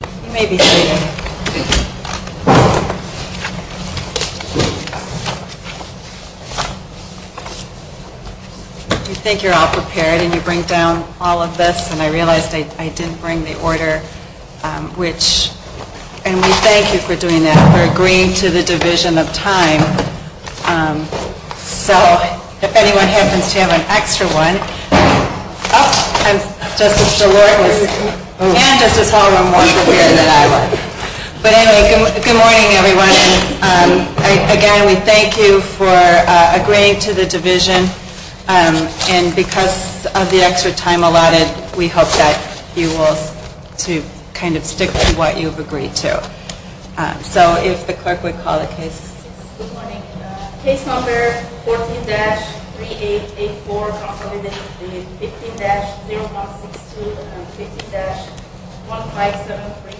You think you're all prepared and you bring down all of this and I realized I didn't bring the order, which, and we thank you for doing that, for agreeing to the division of time. And because of the extra time allotted, we hope that you will kind of stick to what you've agreed to. So if the clerk would call the case. Case number 14-3884, consolidated 15-0162 and 15-1573.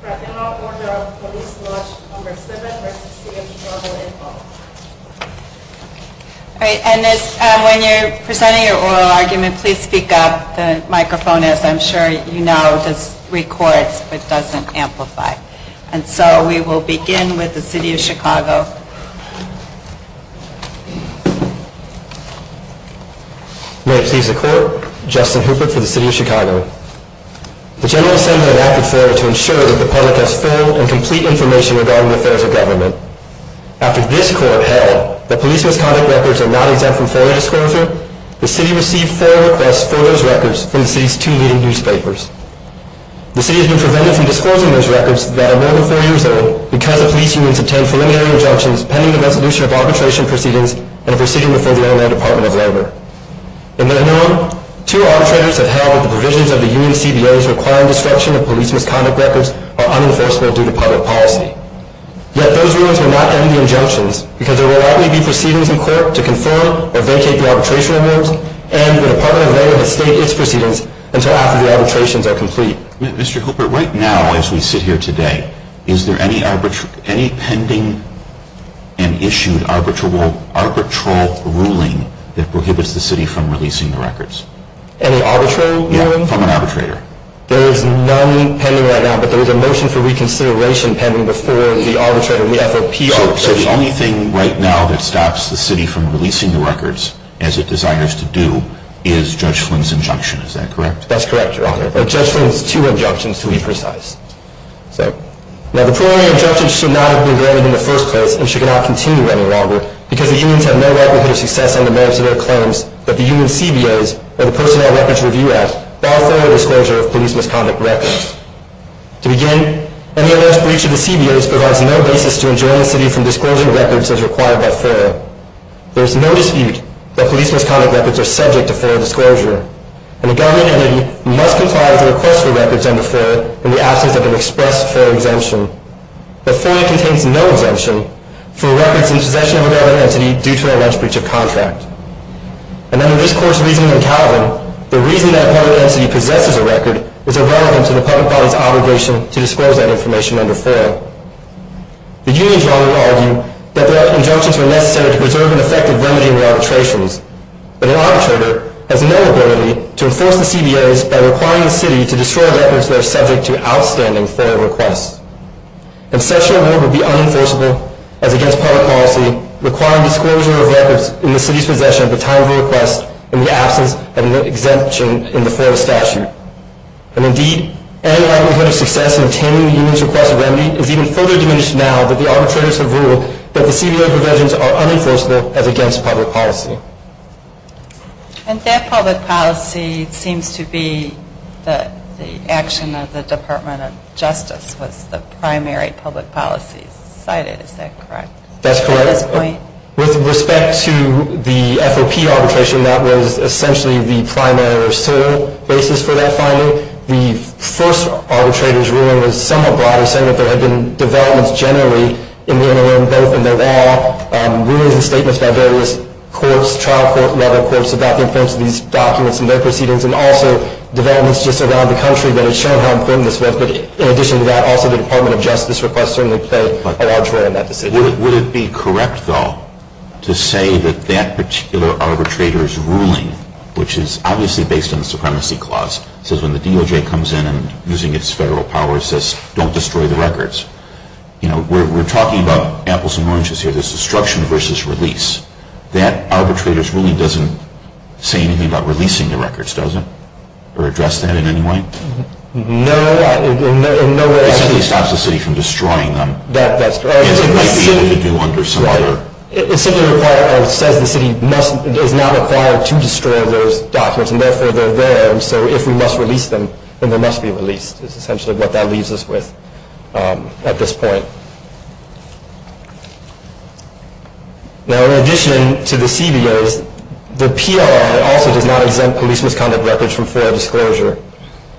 Fraternal Order of Police Lodge No. 7 v. City of Chicago. All right. And when you're presenting your oral argument, please speak up. The microphone, as I'm sure you know, records but doesn't amplify. Thank you. Thank you. Thank you. Thank you. Thank you. Thank you. Thank you. Thank you. Thank you. Thank you. Thank you. Thank you. Thank you. Thank you. Thank you. Thank you. Bye. Bye. Good-bye. Good-bye. Good-bye. Good-bye. Good-bye. Good-bye. Good-bye. 病 and need to take care of. We've been able to advance the CBAs by requiring the city to destroy records that are subject to outstanding FOIA requests. And such an award would be unenforceable, as against public policy, requiring disclosure of records in the city's possession at the time of a request in the absence of an exemption in the FOIA statute. And indeed, any likelihood of success in obtaining the union's request of remedy is even further diminished now that the arbitrators have ruled that the CBA provisions are unenforceable, as against public policy. And that public policy seems to be the action of the Department of Justice was the primary public policy cited, is that correct? That's correct. At this point? With respect to the FOP arbitration, that was essentially the primary or sole basis for that finding. The first arbitrator's ruling was somewhat broader, saying that there had been developments generally in the NLM, both in their law, rulings and statements by various courts, trial court-level courts, about the importance of these documents and their proceedings, and also developments just around the country that have shown how important this was. But in addition to that, also the Department of Justice request certainly played a large role in that decision. Would it be correct, though, to say that that particular arbitrator's ruling, which is obviously based on the Supremacy Clause, says when the DOJ comes in and, using its federal powers, says don't destroy the records, you know, we're talking about apples and oranges here, there's destruction versus release. That arbitrator's ruling doesn't say anything about releasing the records, does it? Or address that in any way? No, in no way. It simply stops the city from destroying them. That's correct. It simply requires or says the city is not required to destroy those documents, and therefore they're there, and so if we must release them, then they must be released, is essentially what that leaves us with at this point. Now, in addition to the CBOs, the PLRA also does not exempt police misconduct records from foreign disclosure.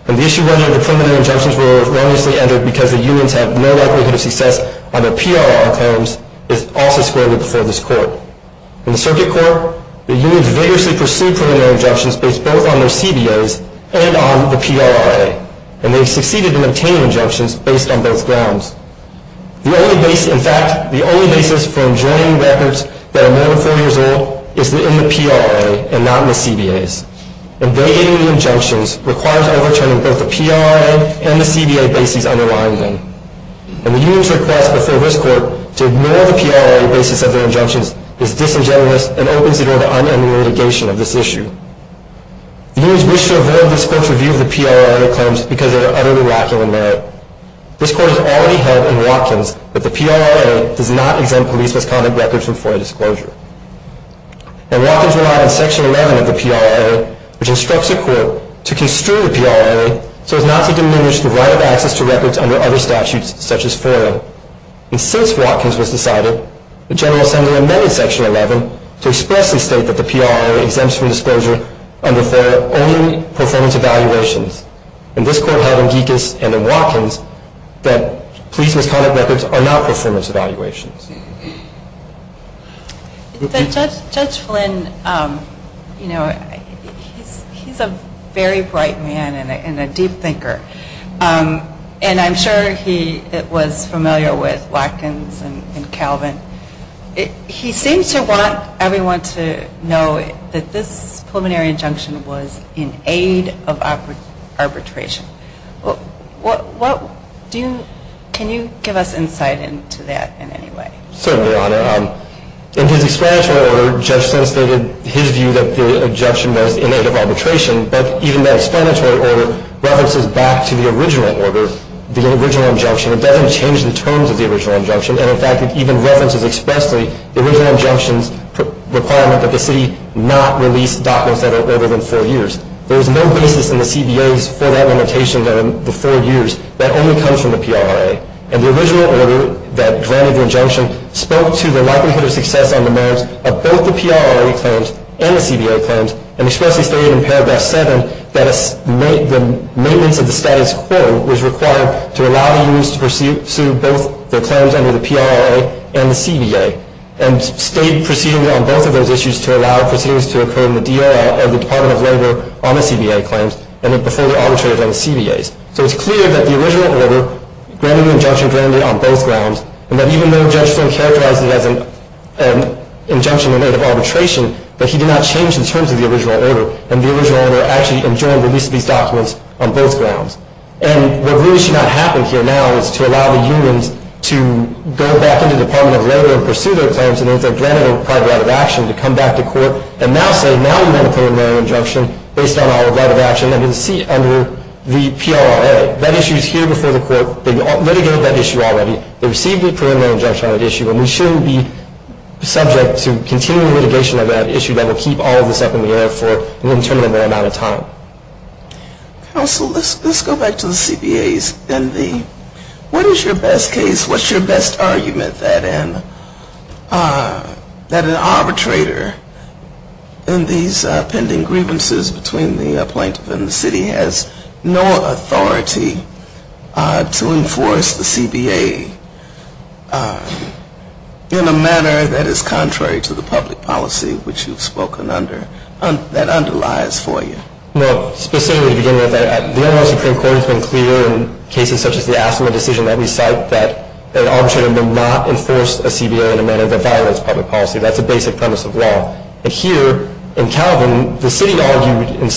And the issue whether the preliminary injunctions were erroneously entered because the unions have no likelihood of success on the PLRA claims is also squarely before this court. In the Circuit Court, the unions vigorously pursued preliminary injunctions based both on their CBOs and on the PLRA, and they succeeded in obtaining injunctions based on both grounds. In fact, the only basis for enjoining records that are more than four years old is in the PLRA and not in the CBOs. And validating the injunctions requires overturning both the PLRA and the CBO basis underlying them. And the union's request before this court to ignore the PLRA basis of their injunctions is disingenuous and opens the door to unending litigation of this issue. The unions wish to avoid this court's review of the PLRA claims because they are utterly lacking in merit. This court has already held in Watkins that the PLRA does not exempt police misconduct records from foreign disclosure. And Watkins relied on Section 11 of the PLRA, which instructs a court to construe the PLRA so as not to diminish the right of access to records under other statutes, such as foreign. And since Watkins was decided, the General Assembly amended Section 11 to expressly state that the PLRA exempts from disclosure under foreign only performance evaluations. And this court held in Gekas and in Watkins that police misconduct records are not performance evaluations. Judge Flynn, you know, he's a very bright man and a deep thinker. And I'm sure he was familiar with Watkins and Calvin. He seems to want everyone to know that this preliminary injunction was in aid of arbitration. Can you give us insight into that in any way? Certainly, Your Honor. In his explanatory order, Judge Flynn stated his view that the injunction was in aid of arbitration. But even that explanatory order references back to the original order, the original injunction. It doesn't change the terms of the original injunction. And, in fact, it even references expressly the original injunction's requirement that the city not release documents that are older than four years. There is no basis in the CBA's for that limitation of the four years. That only comes from the PLRA. And the original order that granted the injunction spoke to the likelihood of success on the merits of both the PLRA claims and the CBA claims and expressly stated in Paragraph 7 that the maintenance of the status quo was required to allow the use to pursue both the claims under the PLRA and the CBA and state proceedings on both of those issues to allow proceedings to occur in the DOL or the Department of Labor on the CBA claims and before they're arbitrated on the CBAs. So it's clear that the original order granted the injunction on both grounds and that even though Judge Flynn characterized it as an injunction in aid of arbitration, that he did not change the terms of the original order. And the original order actually enjoined release of these documents on both grounds. And what really should not happen here now is to allow the unions to go back into the Department of Labor and pursue their claims and if they're granted a private right of action to come back to court and now say, now we want a preliminary injunction based on our right of action under the PLRA. That issue is here before the court. They litigated that issue already. They received a preliminary injunction on that issue and we shouldn't be subject to continual litigation on that issue that will keep all of this up in the air for an interminable amount of time. Counsel, let's go back to the CBAs. What is your best case? Well, specifically to begin with, the NRA Supreme Court has been clear in cases such as the Asimov decision that we cite that an arbitrator will not impose an injunction on the plaintiff. that violates public policy. That's a basic premise of law. And here in Calvin, the city argued in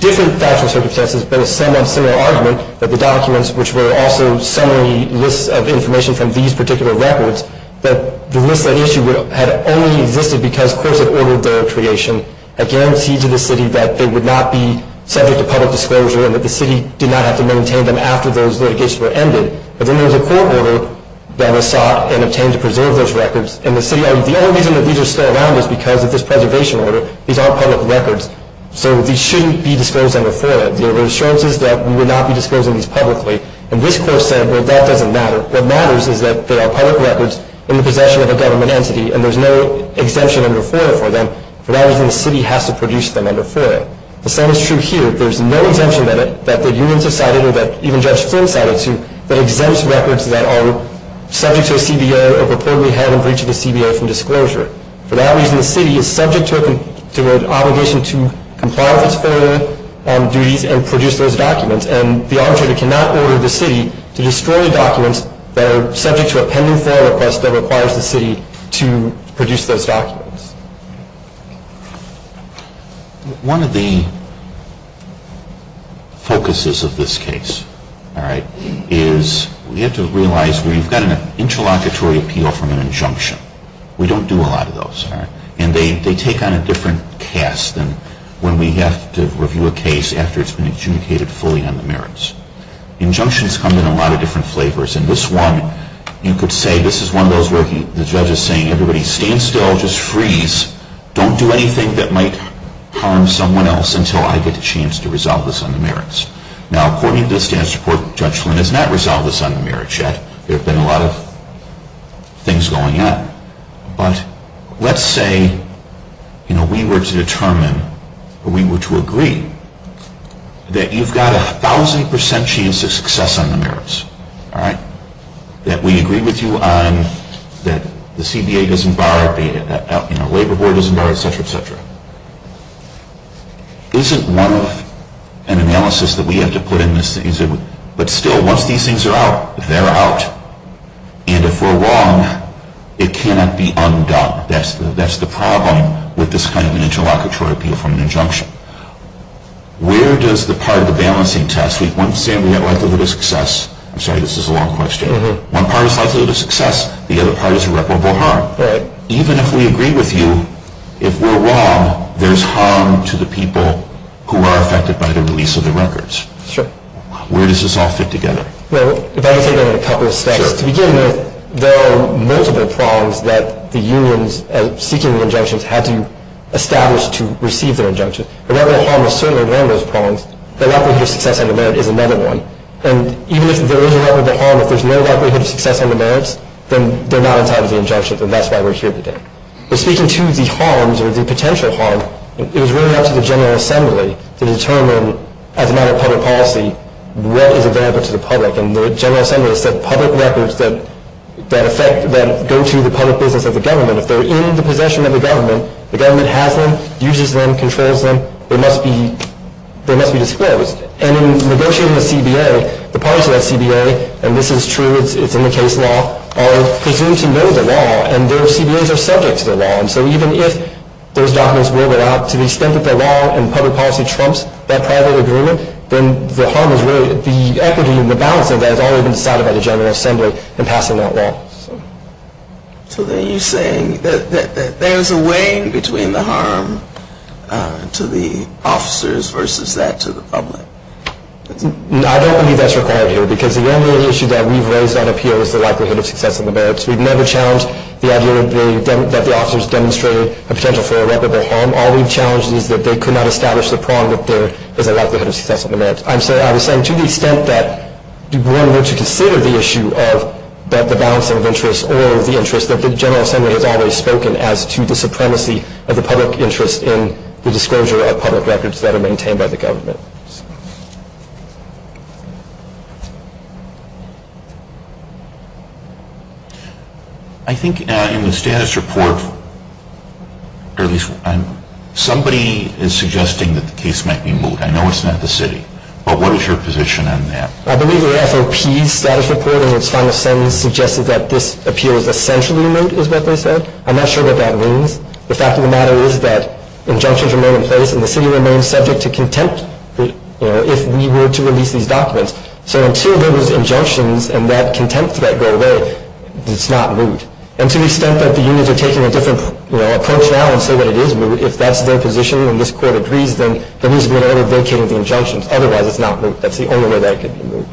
different factual circumstances but a somewhat similar argument that the documents, which were also summary lists of information from these particular records, that the list that issued had only existed because courts had ordered their creation, a guarantee to the city that they would not be subject to public disclosure and that the city did not have to maintain them after those litigations were ended. But then there was a court order that was sought and obtained to preserve those records. And the city argued the only reason that these are still around is because of this preservation order. These are public records, so these shouldn't be disclosed under FOIA. There were assurances that we would not be disclosing these publicly. And this court said, well, that doesn't matter. What matters is that they are public records in the possession of a government entity and there's no exemption under FOIA for them. For that reason, the city has to produce them under FOIA. The same is true here. There's no exemption that the unions have cited or that even Judge Flynn cited to that exempts records that are subject to a CBO or purportedly have a breach of a CBO from disclosure. For that reason, the city is subject to an obligation to comply with its FOIA duties and produce those documents. And the arbitrator cannot order the city to destroy the documents that are subject to a pending FOIA request that requires the city to produce those documents. One of the focuses of this case, all right, is we have to realize we've got an interlocutory appeal from an injunction. We don't do a lot of those, all right. And they take on a different cast than when we have to review a case after it's been adjudicated fully on the merits. Injunctions come in a lot of different flavors. In this one, you could say this is one of those where the judge is saying everybody stand still, just freeze, don't do anything that might harm someone else until I get a chance to resolve this on the merits. Now, according to the status report, Judge Flynn has not resolved this on the merits yet. There have been a lot of things going on. But let's say, you know, we were to determine or we were to agree that you've got a thousand percent chance of success on the merits, all right, that we agree with you on that the CBA doesn't bar it, you know, Labor Board doesn't bar it, et cetera, et cetera. Isn't one of an analysis that we have to put in this, but still, once these things are out, they're out. And if we're wrong, it cannot be undone. That's the problem with this kind of an interlocutory appeal from an injunction. Where does the part of the balancing test? I'm sorry, this is a long question. One part is likelihood of success, the other part is irreparable harm. Right. Even if we agree with you, if we're wrong, there's harm to the people who are affected by the release of the records. Sure. Where does this all fit together? Well, if I could take that in a couple of steps. Sure. To begin with, there are multiple prongs that the unions seeking the injunctions had to establish to receive their injunctions. Irreparable harm is certainly one of those prongs. The likelihood of success under merit is another one. And even if there is irreparable harm, if there's no likelihood of success under merit, then they're not entitled to the injunction, and that's why we're here today. But speaking to the harms or the potential harm, it was really up to the General Assembly to determine, as a matter of public policy, what is available to the public. And the General Assembly said public records that affect, that go to the public business of the government, if they're in the possession of the government, the government has them, uses them, controls them, they must be disclosed. And in negotiating the CBA, the parties to that CBA, and this is true, it's in the case law, are presumed to know the law, and their CBAs are subject to the law. And so even if those documents will go out, to the extent that the law and public policy trumps that private agreement, then the harm is really the equity and the balance of that has already been decided by the General Assembly in passing that law. So then you're saying that there's a weighing between the harm to the officers versus that to the public? I don't believe that's required here, because the only issue that we've raised on appeal is the likelihood of success under merit. We've never challenged the idea that the officers demonstrate a potential for irreparable harm. All we've challenged is that they could not establish the prong that there is a likelihood of success under merit. I'm sorry, I was saying to the extent that one were to consider the issue of the balance of interest or the interest, that the General Assembly has always spoken as to the supremacy of the public interest in the disclosure of public records that are maintained by the government. I think in the status report, or at least somebody is suggesting that the case might be moved. I know it's not the city, but what is your position on that? I believe the AFOP's status report in its final sentence suggested that this appeal is essentially moot, is what they said. I'm not sure what that means. The fact of the matter is that injunctions remain in place and the city remains subject to contempt if we were to release these documents. So until those injunctions and that contempt threat go away, it's not moot. And to the extent that the unions are taking a different approach now and say that it is moot, if that's their position and this court agrees, then there needs to be an order vacating the injunctions. Otherwise, it's not moot. That's the only way that it could be moot.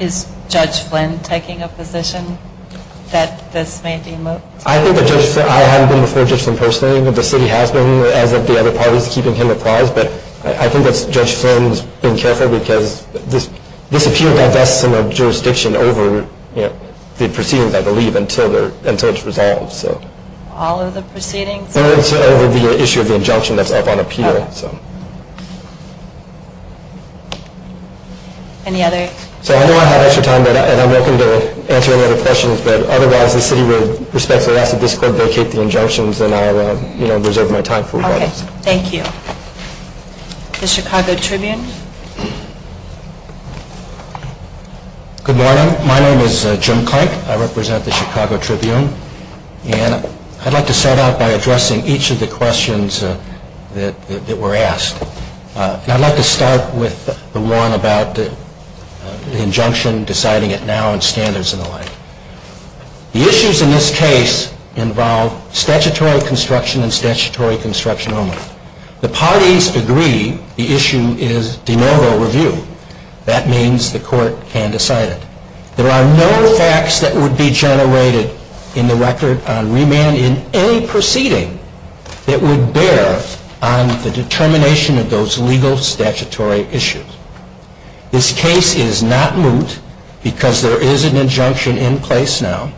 Is Judge Flynn taking a position that this may be moot? I haven't been before Judge Flynn personally. The city has been, as have the other parties, keeping him apprised. But I think Judge Flynn has been careful because this appeal divests some of the jurisdiction over the proceedings, I believe, until it's resolved. All of the proceedings? No, it's over the issue of the injunction that's up on appeal. Any other? I know I have extra time, and I'm welcome to answer any other questions. But otherwise, the city would respectfully ask that this court vacate the injunctions, and I'll reserve my time for rebuttals. Thank you. The Chicago Tribune. Good morning. My name is Jim Clank. I represent the Chicago Tribune. And I'd like to start out by addressing each of the questions that were asked. And I'd like to start with the one about the injunction, deciding it now, and standards and the like. The issues in this case involve statutory construction and statutory construction only. The parties agree the issue is de novo review. That means the court can decide it. There are no facts that would be generated in the record on remand in any proceeding that would bear on the determination of those legal statutory issues. This case is not moot because there is an injunction in place now.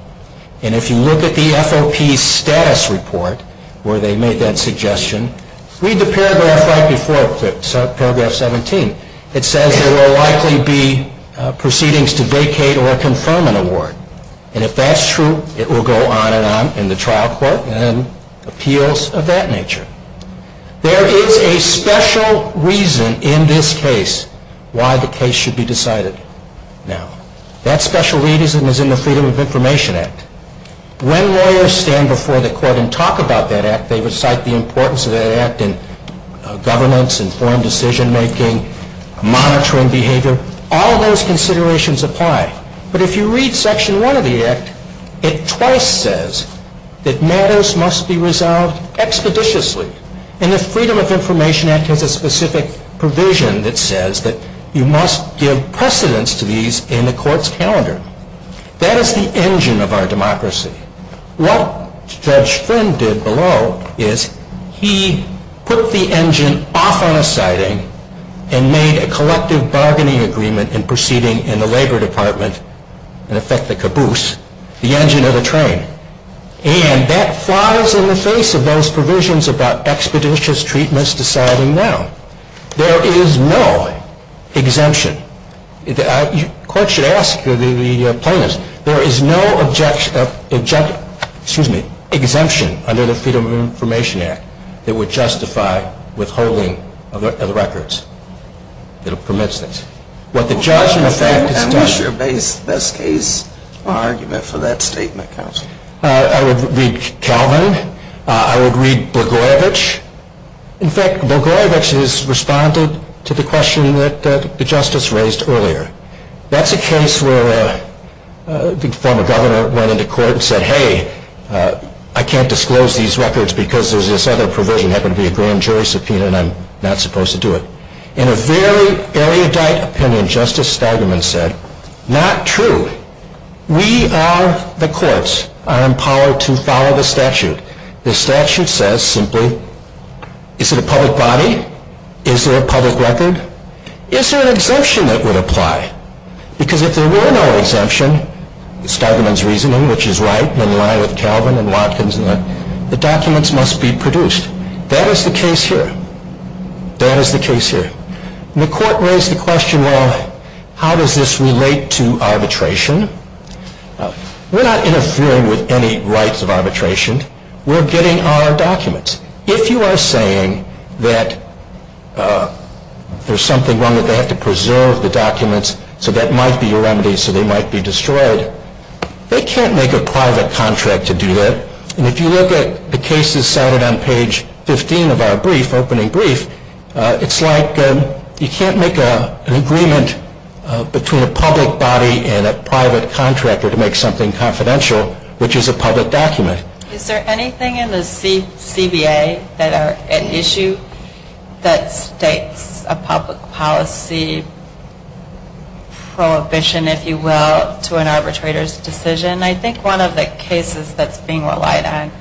And if you look at the FOP status report where they made that suggestion, read the paragraph right before it, paragraph 17. It says there will likely be proceedings to vacate or confirm an award. And if that's true, it will go on and on in the trial court and appeals of that nature. There is a special reason in this case why the case should be decided now. That special reason is in the Freedom of Information Act. When lawyers stand before the court and talk about that act, they recite the importance of that act in governance, informed decision-making, monitoring behavior. All of those considerations apply. But if you read Section 1 of the Act, it twice says that matters must be resolved expeditiously. And the Freedom of Information Act has a specific provision that says that you must give precedence to these in the court's calendar. That is the engine of our democracy. What Judge Flynn did below is he put the engine off on a siding and made a collective bargaining agreement in proceeding in the labor department, in effect the caboose, the engine of the train. And that flies in the face of those provisions about expeditious treatments deciding now. There is no exemption. The court should ask the plaintiffs. There is no exemption under the Freedom of Information Act that would justify withholding of the records. It permits this. What the judge in effect has done. What's your best case argument for that statement, counsel? I would read Calvin. I would read Blagojevich. In fact, Blagojevich has responded to the question that the justice raised earlier. That's a case where the former governor went into court and said, hey, I can't disclose these records because there's this other provision. It happened to be a grand jury subpoena and I'm not supposed to do it. In a very erudite opinion, Justice Stegman said, not true. We are the courts. I am empowered to follow the statute. The statute says simply, is it a public body? Is there a public record? Is there an exemption that would apply? Because if there were no exemption, Stegman's reasoning, which is right and in line with Calvin and Watkins, the documents must be produced. That is the case here. That is the case here. The court raised the question, well, how does this relate to arbitration? We're not interfering with any rights of arbitration. We're getting our documents. If you are saying that there's something wrong that they have to preserve the documents so that might be a remedy so they might be destroyed, they can't make a private contract to do that. And if you look at the cases cited on page 15 of our brief, opening brief, it's like you can't make an agreement between a public body and a private contractor to make something confidential, which is a public document. Is there anything in the CBA that are at issue that states a public policy prohibition, if you will, to an arbitrator's decision? And I think one of the cases that's being relied on,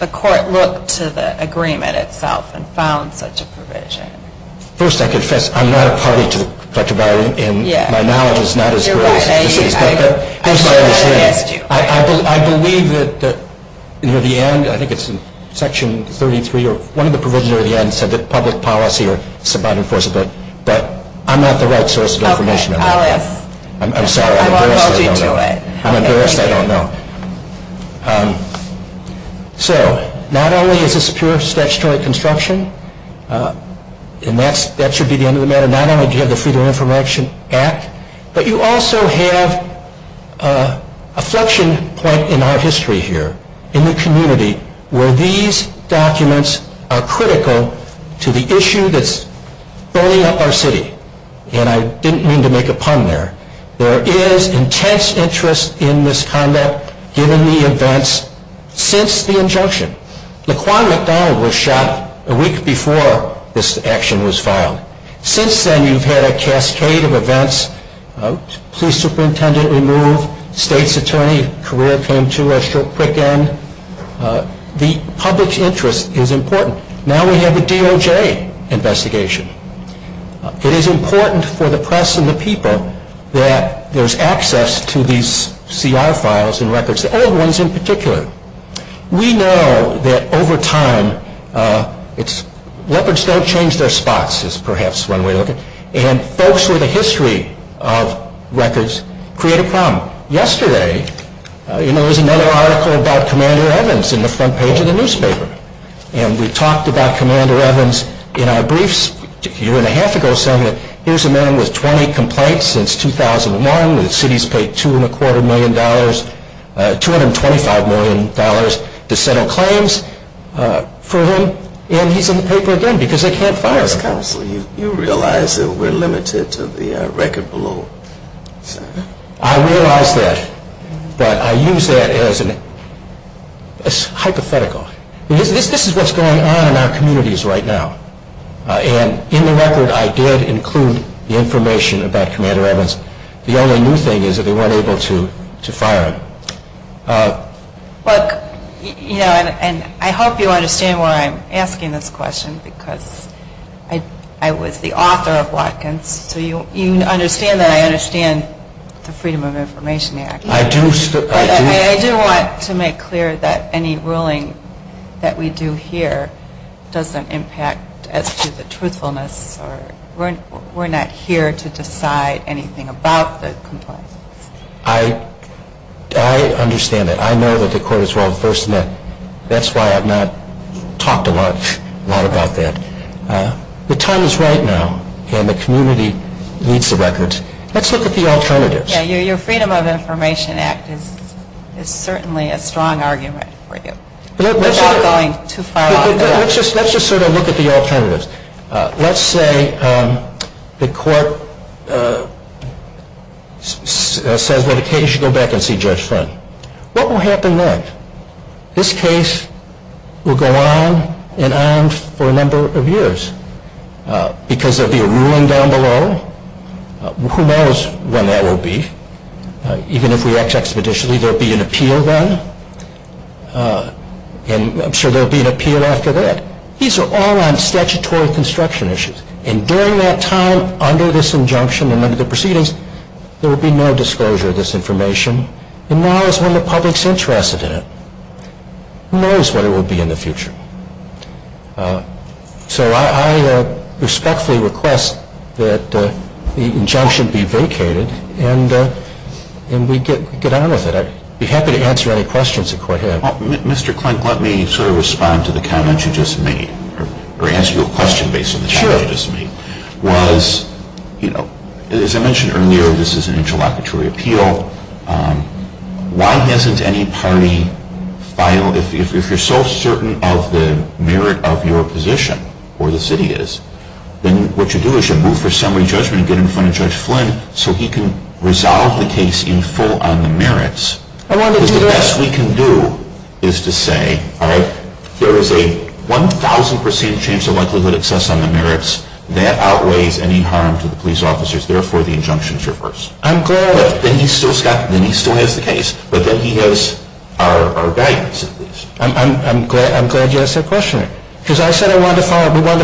the court looked to the agreement itself and found such a provision. First, I confess I'm not a party to the collective bargaining. And my knowledge is not as great. I believe that near the end, I think it's in section 33 or one of the provisions near the end said that public policy is about enforcement. I'm sorry, I'm embarrassed I don't know. So not only is this pure statutory construction, and that should be the end of the matter, not only do you have the Freedom of Information Act, but you also have a flexion point in our history here in the community where these documents are critical to the issue that's burning up our city. And I didn't mean to make a pun there. There is intense interest in this conduct given the events since the injunction. Laquan McDonald was shot a week before this action was filed. Since then, you've had a cascade of events. Police superintendent removed. State's attorney career came to a quick end. The public interest is important. Now we have the DOJ investigation. It is important for the press and the people that there's access to these CR files and records, the old ones in particular. We know that over time, leopards don't change their spots is perhaps one way to look at it. And folks with a history of records create a problem. Yesterday, there was another article about Commander Evans in the front page of the newspaper. And we talked about Commander Evans in our briefs a year and a half ago. Here's a man with 20 complaints since 2001. The city's paid $225 million to settle claims for him. And he's in the paper again because they can't fire him. You realize that we're limited to the record below. I realize that. But I use that as hypothetical. This is what's going on in our communities right now. And in the record, I did include the information about Commander Evans. The only new thing is that they weren't able to fire him. And I hope you understand why I'm asking this question because I was the author of Watkins. So you understand that I understand the Freedom of Information Act. I do. I do want to make clear that any ruling that we do here doesn't impact as to the truthfulness. We're not here to decide anything about the complaints. I understand that. I know that the court is well-versed in that. That's why I've not talked a lot about that. The time is right now and the community needs the records. Let's look at the alternatives. Your Freedom of Information Act is certainly a strong argument for you. Let's just sort of look at the alternatives. Let's say the court says that a case should go back and see Judge Friend. What will happen then? This case will go on and on for a number of years because there will be a ruling down below. Who knows when that will be? Even if we act expeditiously, there will be an appeal then. And I'm sure there will be an appeal after that. These are all on statutory construction issues. And during that time, under this injunction and under the proceedings, there will be no disclosure of this information. And now is when the public is interested in it. Who knows what it will be in the future? So I respectfully request that the injunction be vacated and we get on with it. I'd be happy to answer any questions the court has. Mr. Klink, let me sort of respond to the comment you just made or ask you a question based on the comment you just made. Sure. As I mentioned earlier, this is an interlocutory appeal. Why doesn't any party file? If you're so certain of the merit of your position or the city is, then what you do is you move for summary judgment and get in front of Judge Flynn so he can resolve the case in full on the merits. Because the best we can do is to say, all right, there is a 1,000 percent chance of likelihood of success on the merits. That outweighs any harm to the police officers. Therefore, the injunction is reversed. Then he still has the case, but then he has our guidance at least. I'm glad you asked that question. Because I said we wanted to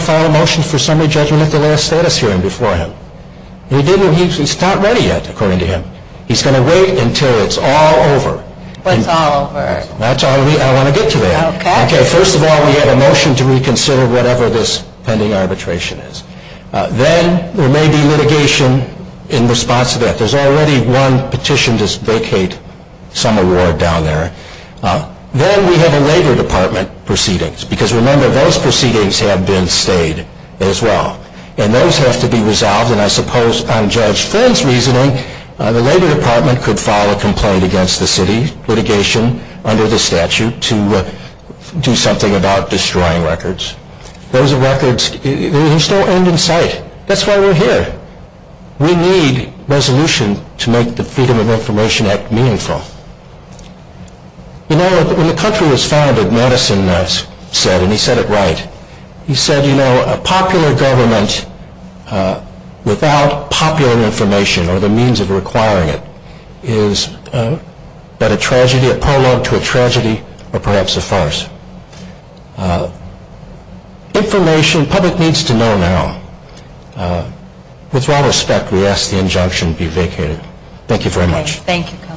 file a motion for summary judgment at the last status hearing before him. He's not ready yet, according to him. He's going to wait until it's all over. When it's all over. I want to get to that. First of all, we have a motion to reconsider whatever this pending arbitration is. Then there may be litigation in response to that. There's already one petition to vacate some award down there. Then we have a Labor Department proceedings. Because, remember, those proceedings have been stayed as well. And those have to be resolved. And I suppose on Judge Flynn's reasoning, the Labor Department could file a complaint against the city, under the statute, to do something about destroying records. Those records still end in sight. That's why we're here. We need resolution to make the Freedom of Information Act meaningful. You know, when the country was founded, Madison said, and he said it right, he said, you know, a popular government without popular information or the means of requiring it is but a tragedy, a prologue to a tragedy, or perhaps a farce. Information public needs to know now. With all respect, we ask the injunction be vacated. Thank you very much. Thank you, Counsel.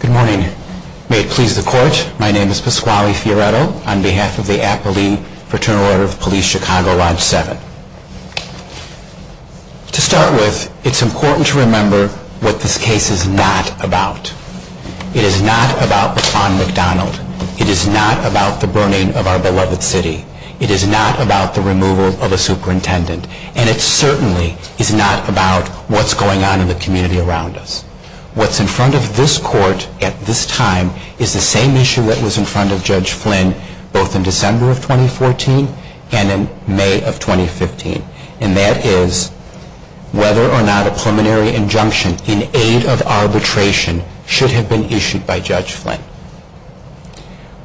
Good morning. May it please the Court, my name is Pasquale Fioretto, on behalf of the Appleby Fraternal Order of the Police, Chicago, Lodge 7. To start with, it's important to remember what this case is not about. It is a case that is not about the police. It is not about the Pond McDonald. It is not about the burning of our beloved city. It is not about the removal of a superintendent. And it certainly is not about what's going on in the community around us. What's in front of this Court at this time is the same issue that was in front of Judge Flynn both in December of 2014 and in May of 2015, and that is whether or not a preliminary injunction in aid of arbitration should have been issued by Judge Flynn.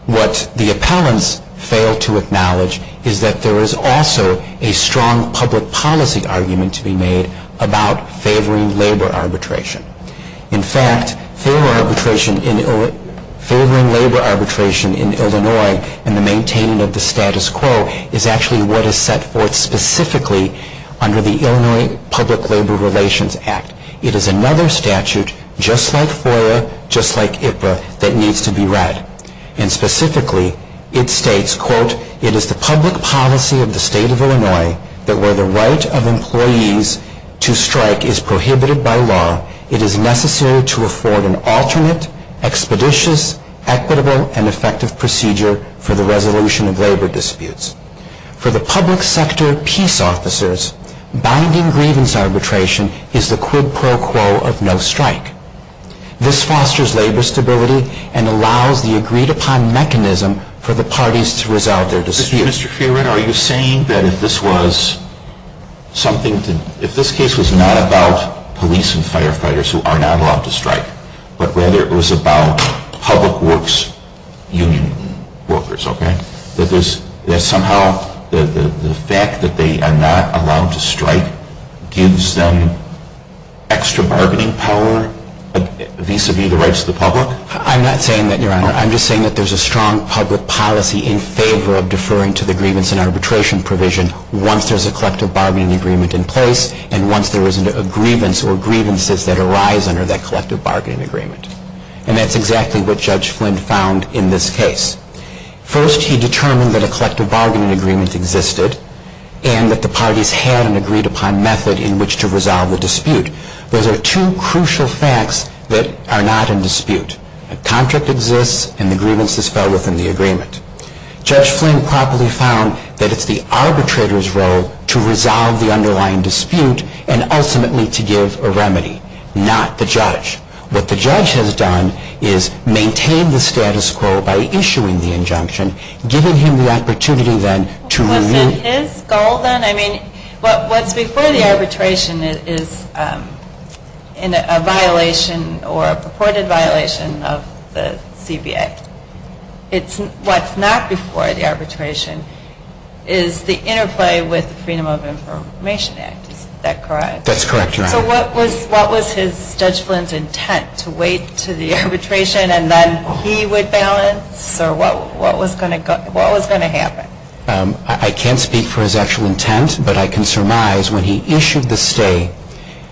What the appellants fail to acknowledge is that there is also a strong public policy argument to be made about favoring labor arbitration. In fact, favoring labor arbitration in Illinois and the maintaining of the status quo is actually what is set forth specifically under the Illinois Public Labor Relations Act. It is another statute, just like FOIA, just like IPRA, that needs to be read. And specifically, it states, quote, it is the public policy of the State of Illinois that where the right of employees to strike is prohibited by law, it is necessary to afford an alternate, expeditious, equitable, and effective procedure for the resolution of labor disputes. For the public sector peace officers, binding grievance arbitration is the quid pro quo of no strike. This fosters labor stability and allows the agreed upon mechanism for the parties to resolve their disputes. Mr. Fiorina, are you saying that if this case was not about police and firefighters who are not allowed to strike, but rather it was about public works union workers, that somehow the fact that they are not allowed to strike gives them extra bargaining power vis-a-vis the rights of the public? I'm not saying that, Your Honor. I'm just saying that there's a strong public policy in favor of deferring to the grievance and arbitration provision once there's a collective bargaining agreement in place and once there isn't a grievance or grievances that arise under that collective bargaining agreement. And that's exactly what Judge Flynn found in this case. First, he determined that a collective bargaining agreement existed and that the parties had an agreed upon method in which to resolve the dispute. Those are two crucial facts that are not in dispute. A contract exists and the grievance is fell within the agreement. Judge Flynn properly found that it's the arbitrator's role to resolve the underlying dispute and ultimately to give a remedy, not the judge. What the judge has done is maintain the status quo by issuing the injunction, giving him the opportunity then to review. Was it his goal then? I mean, what's before the arbitration is a violation or a purported violation of the CBA. What's not before the arbitration is the interplay with the Freedom of Information Act. Is that correct? That's correct, Your Honor. So what was Judge Flynn's intent to wait to the arbitration and then he would balance? Or what was going to happen? I can't speak for his actual intent, but I can surmise when he issued the stay,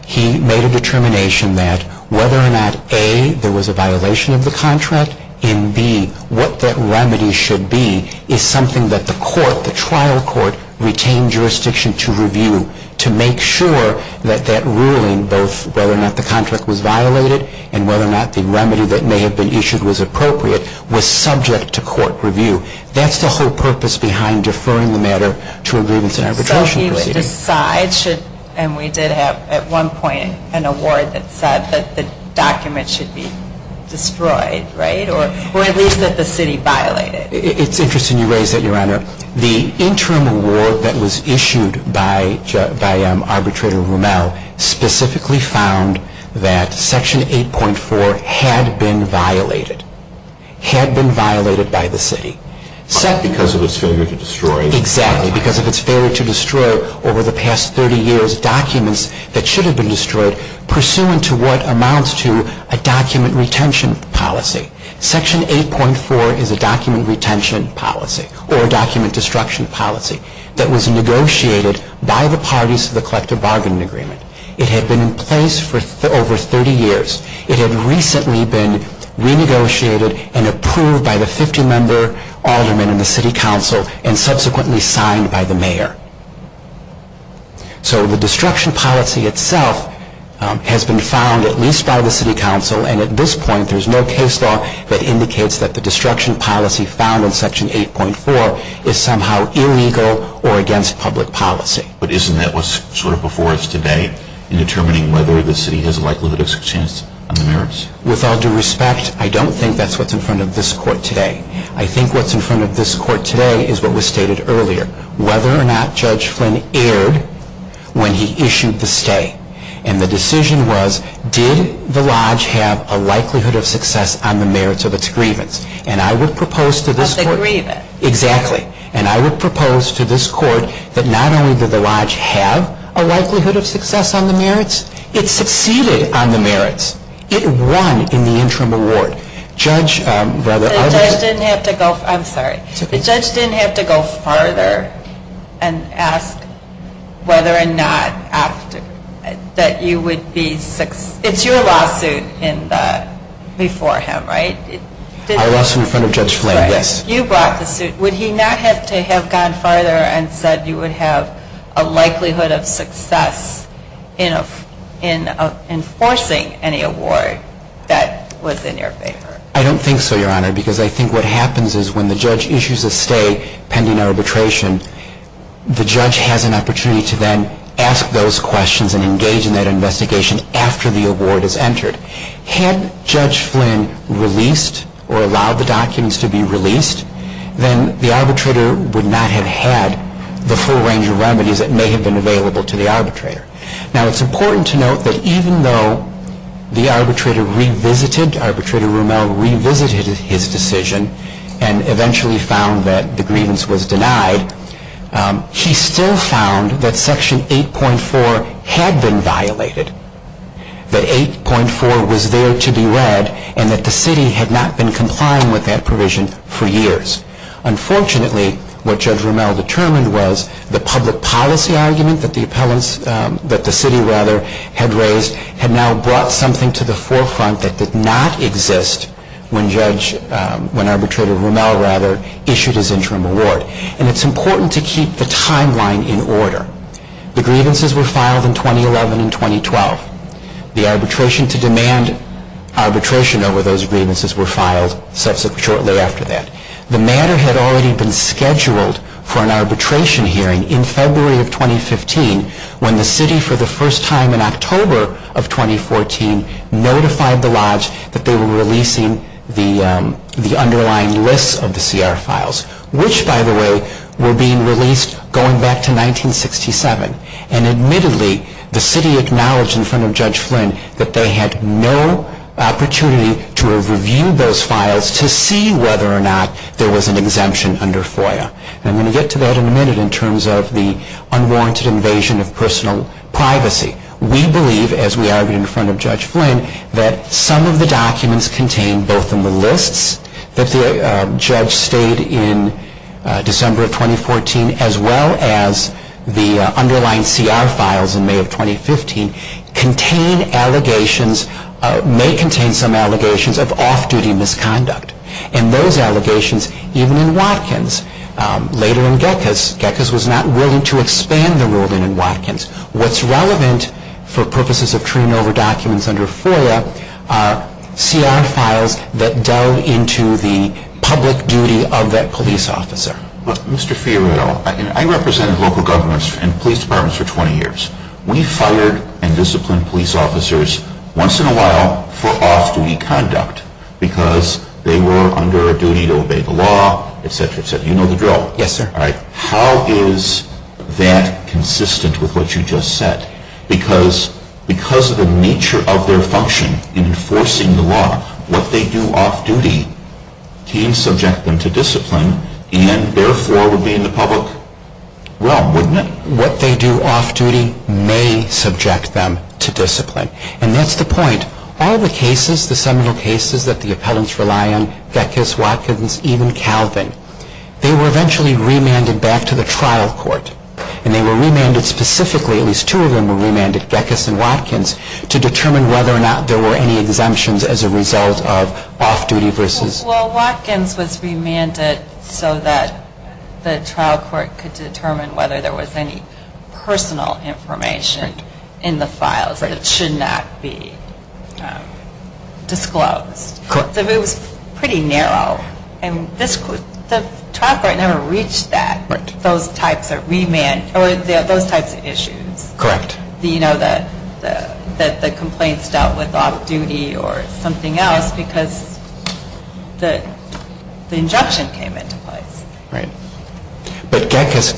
he made a determination that whether or not, A, there was a violation of the contract, and, B, what that remedy should be is something that the court, the trial court, retained jurisdiction to review to make sure that that ruling, both whether or not the contract was violated and whether or not the remedy that may have been issued was appropriate, was subject to court review. That's the whole purpose behind deferring the matter to a grievance and arbitration proceeding. So he would decide, and we did have at one point an award that said that the document should be destroyed, right? Or at least that the city violate it. It's interesting you raise that, Your Honor. The interim award that was issued by Arbitrator Rommel specifically found that Section 8.4 had been violated. Had been violated by the city. Because of its failure to destroy. Exactly. Because of its failure to destroy over the past 30 years documents that should have been destroyed, pursuant to what amounts to a document retention policy. Section 8.4 is a document retention policy, or a document destruction policy, that was negotiated by the parties to the collective bargaining agreement. It had been in place for over 30 years. It had recently been renegotiated and approved by the 50-member aldermen in the city council and subsequently signed by the mayor. So the destruction policy itself has been found at least by the city council, and at this point there's no case law that indicates that the destruction policy found in Section 8.4 is somehow illegal or against public policy. But isn't that what's sort of before us today in determining whether the city has a likelihood of success on the merits? With all due respect, I don't think that's what's in front of this court today. I think what's in front of this court today is what was stated earlier, whether or not Judge Flynn erred when he issued the stay. And the decision was, did the lodge have a likelihood of success on the merits of its grievance? And I would propose to this court... Of the grievance. Exactly. And I would propose to this court that not only did the lodge have a likelihood of success on the merits, it succeeded on the merits. It won in the interim award. Judge... The judge didn't have to go... I'm sorry. The judge didn't have to go farther and ask whether or not that you would be... It's your lawsuit before him, right? I lost in front of Judge Flynn, yes. You brought the suit. Would he not have to have gone farther and said you would have a likelihood of success in enforcing any award that was in your favor? I don't think so, Your Honor, because I think what happens is when the judge issues a stay pending arbitration, the judge has an opportunity to then ask those questions and engage in that investigation after the award is entered. Had Judge Flynn released or allowed the documents to be released, then the arbitrator would not have had the full range of remedies that may have been available to the arbitrator. Now, it's important to note that even though the arbitrator revisited, Arbitrator Rommel revisited his decision and eventually found that the grievance was denied, he still found that Section 8.4 had been violated, that 8.4 was there to be read, and that the city had not been complying with that provision for years. Unfortunately, what Judge Rommel determined was the public policy argument that the city had raised had now brought something to the forefront that did not exist when Arbitrator Rommel issued his interim award. And it's important to keep the timeline in order. The grievances were filed in 2011 and 2012. The arbitration to demand arbitration over those grievances were filed shortly after that. The matter had already been scheduled for an arbitration hearing in February of 2015 when the city, for the first time in October of 2014, notified the Lodge that they were releasing the underlying lists of the CR files, which, by the way, were being released going back to 1967. And admittedly, the city acknowledged in front of Judge Flynn that they had no opportunity to have reviewed those files to see whether or not there was an exemption under FOIA. And I'm going to get to that in a minute in terms of the unwarranted invasion of personal privacy. We believe, as we argued in front of Judge Flynn, that some of the documents contained both in the lists that the judge stayed in December of 2014 as well as the underlying CR files in May of 2015, may contain some allegations of off-duty misconduct. And those allegations, even in Watkins, later in Gekas, Gekas was not willing to expand the ruling in Watkins. What's relevant, for purposes of turning over documents under FOIA, are CR files that delve into the public duty of that police officer. Mr. Fiorillo, I represented local governors and police departments for 20 years. We fired and disciplined police officers once in a while for off-duty conduct because they were under a duty to obey the law, et cetera, et cetera. You know the drill. Yes, sir. All right. How is that consistent with what you just said? Because of the nature of their function in enforcing the law, what they do off-duty can subject them to discipline and therefore would be in the public realm, wouldn't it? What they do off-duty may subject them to discipline. And that's the point. All the cases, the seminal cases that the appellants rely on, Gekas, Watkins, even Calvin, they were eventually remanded back to the trial court. And they were remanded specifically, at least two of them were remanded, Gekas and Watkins, to determine whether or not there were any exemptions as a result of off-duty versus. Well, Watkins was remanded so that the trial court could determine whether there was any personal information in the files that should not be disclosed. Correct. It was pretty narrow. And the trial court never reached that, those types of issues. Correct. The complaints dealt with off-duty or something else because the injunction came into place. Right. But Gekas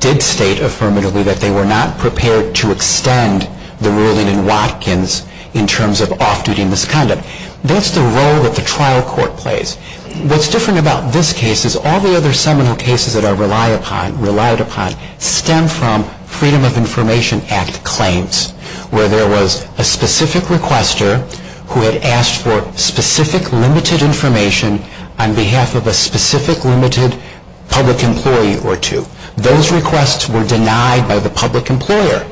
did state affirmatively that they were not prepared to extend the ruling in Watkins in terms of off-duty misconduct. That's the role that the trial court plays. What's different about this case is all the other seminal cases that are relied upon stem from Freedom of Information Act claims, where there was a specific requester who had asked for specific limited information on behalf of a specific limited public employee or two. Those requests were denied by the public employer.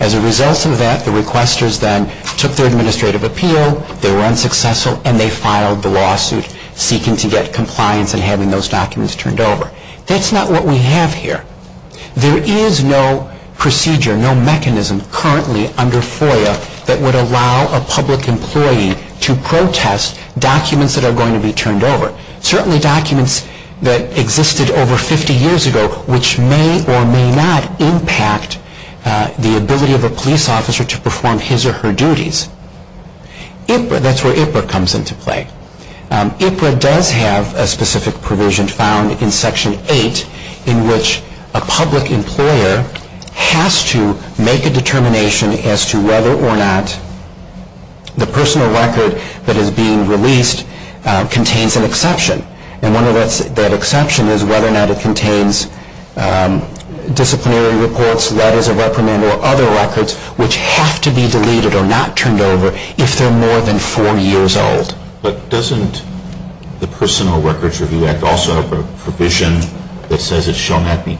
As a result of that, the requesters then took their administrative appeal, they were unsuccessful, and they filed the lawsuit seeking to get compliance and having those documents turned over. That's not what we have here. There is no procedure, no mechanism currently under FOIA that would allow a public employee to protest documents that are going to be turned over, certainly documents that existed over 50 years ago, which may or may not impact the ability of a police officer to perform his or her duties. That's where IPRA comes into play. IPRA does have a specific provision found in Section 8 in which a public employer has to make a determination as to whether or not the personal record that is being released contains an exception. And one of that exceptions is whether or not it contains disciplinary reports, letters of reprimand, or other records which have to be deleted or not turned over if they are more than four years old. But doesn't the Personal Records Review Act also have a provision that says it shall not be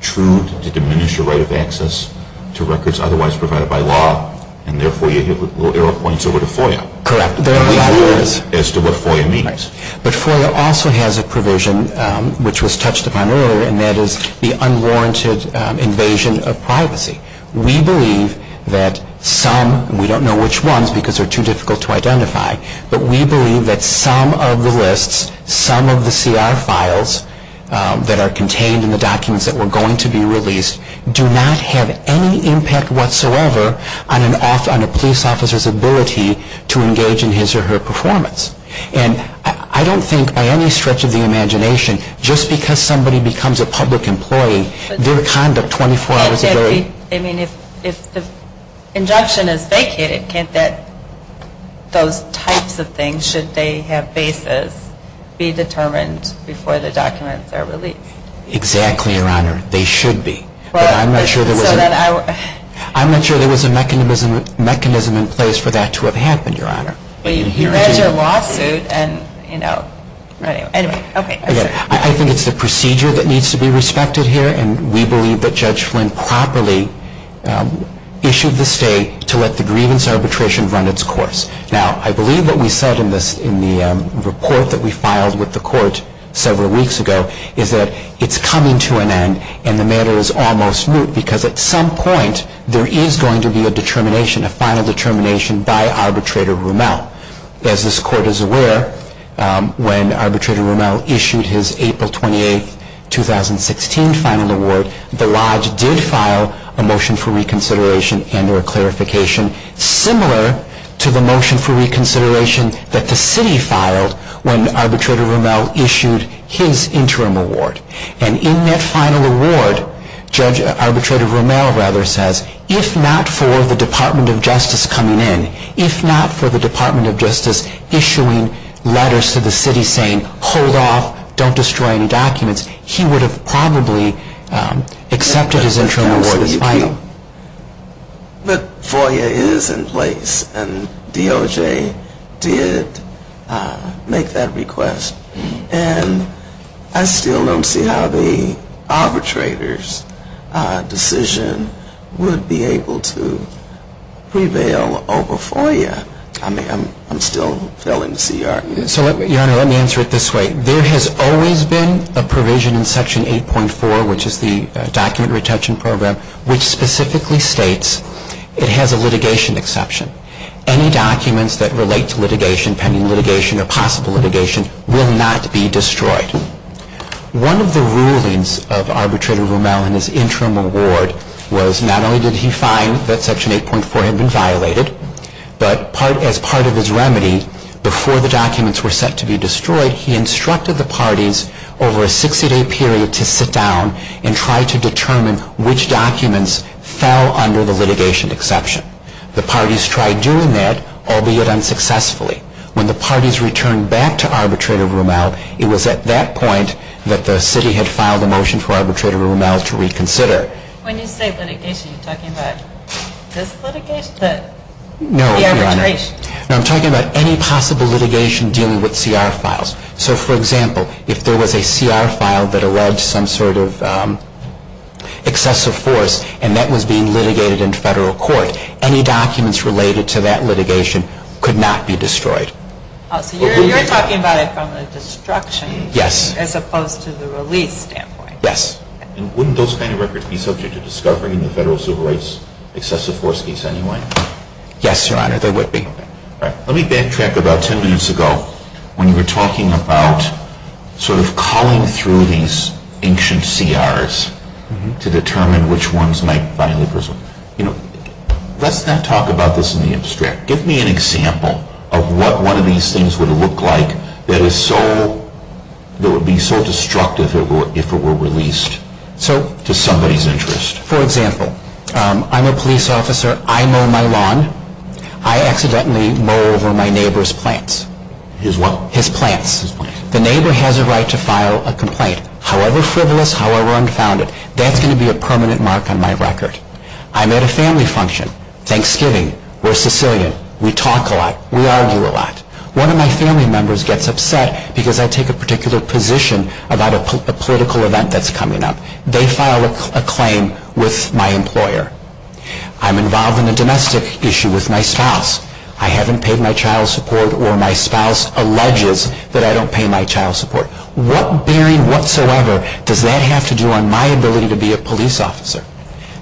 true to diminish the right of access to records otherwise provided by law and therefore you hit little arrow points over to FOIA? Correct. As to what FOIA means. But FOIA also has a provision which was touched upon earlier and that is the unwarranted invasion of privacy. We believe that some, we don't know which ones because they're too difficult to identify, but we believe that some of the lists, some of the CR files that are contained in the documents that were going to be released do not have any impact whatsoever on a police officer's ability to engage in his or her performance. And I don't think by any stretch of the imagination, just because somebody becomes a public employee, their conduct 24 hours a day. I mean, if the injunction is vacated, can't that, those types of things, should they have basis be determined before the documents are released? Exactly, Your Honor. They should be. But I'm not sure there was a mechanism in place for that to have happened, Your Honor. But you read your lawsuit and, you know, anyway, okay. I think it's the procedure that needs to be respected here and we believe that Judge Flynn properly issued the stay to let the grievance arbitration run its course. Now, I believe what we said in the report that we filed with the court several weeks ago is that it's coming to an end and the matter is almost moot because at some point there is going to be a determination, a final determination by Arbitrator Rommel. As this court is aware, when Arbitrator Rommel issued his April 28, 2016 final award, the Lodge did file a motion for reconsideration and or clarification similar to the motion for reconsideration that the city filed when Arbitrator Rommel issued his interim award. And in that final award, Arbitrator Rommel rather says, if not for the Department of Justice coming in, if not for the Department of Justice issuing letters to the city saying, hold off, don't destroy any documents, he would have probably accepted his interim award as final. But FOIA is in place and DOJ did make that request. And I still don't see how the arbitrator's decision would be able to prevail over FOIA. I mean, I'm still failing to see your argument. So, Your Honor, let me answer it this way. There has always been a provision in Section 8.4, which is the document retention program, which specifically states it has a litigation exception. Any documents that relate to litigation, pending litigation or possible litigation, will not be destroyed. One of the rulings of Arbitrator Rommel in his interim award was not only did he find that Section 8.4 had been violated, but as part of his remedy, before the documents were set to be destroyed, he instructed the parties over a 60-day period to sit down and try to determine which documents fell under the litigation exception. The parties tried doing that, albeit unsuccessfully. When the parties returned back to Arbitrator Rommel, it was at that point that the city had filed a motion for Arbitrator Rommel to reconsider. When you say litigation, are you talking about this litigation or the arbitration? No, I'm talking about any possible litigation dealing with CR files. So, for example, if there was a CR file that alleged some sort of excessive force and that was being litigated in federal court, any documents related to that litigation could not be destroyed. Oh, so you're talking about it from the destruction as opposed to the release standpoint. Yes. And wouldn't those kind of records be subject to discovery in the federal civil rights excessive force case anyway? Yes, Your Honor, they would be. Let me backtrack about 10 minutes ago when you were talking about sort of calling through these ancient CRs to determine which ones might finally presume. Let's not talk about this in the abstract. Give me an example of what one of these things would look like that would be so destructive if it were released to somebody's interest. For example, I'm a police officer. I mow my lawn. I accidentally mow over my neighbor's plants. His what? His plants. The neighbor has a right to file a complaint, however frivolous, however unfounded. That's going to be a permanent mark on my record. I'm at a family function. Thanksgiving. We're Sicilian. We talk a lot. We argue a lot. One of my family members gets upset because I take a particular position about a political event that's coming up. They file a claim with my employer. I'm involved in a domestic issue with my spouse. I haven't paid my child support or my spouse alleges that I don't pay my child support. What bearing whatsoever does that have to do on my ability to be a police officer?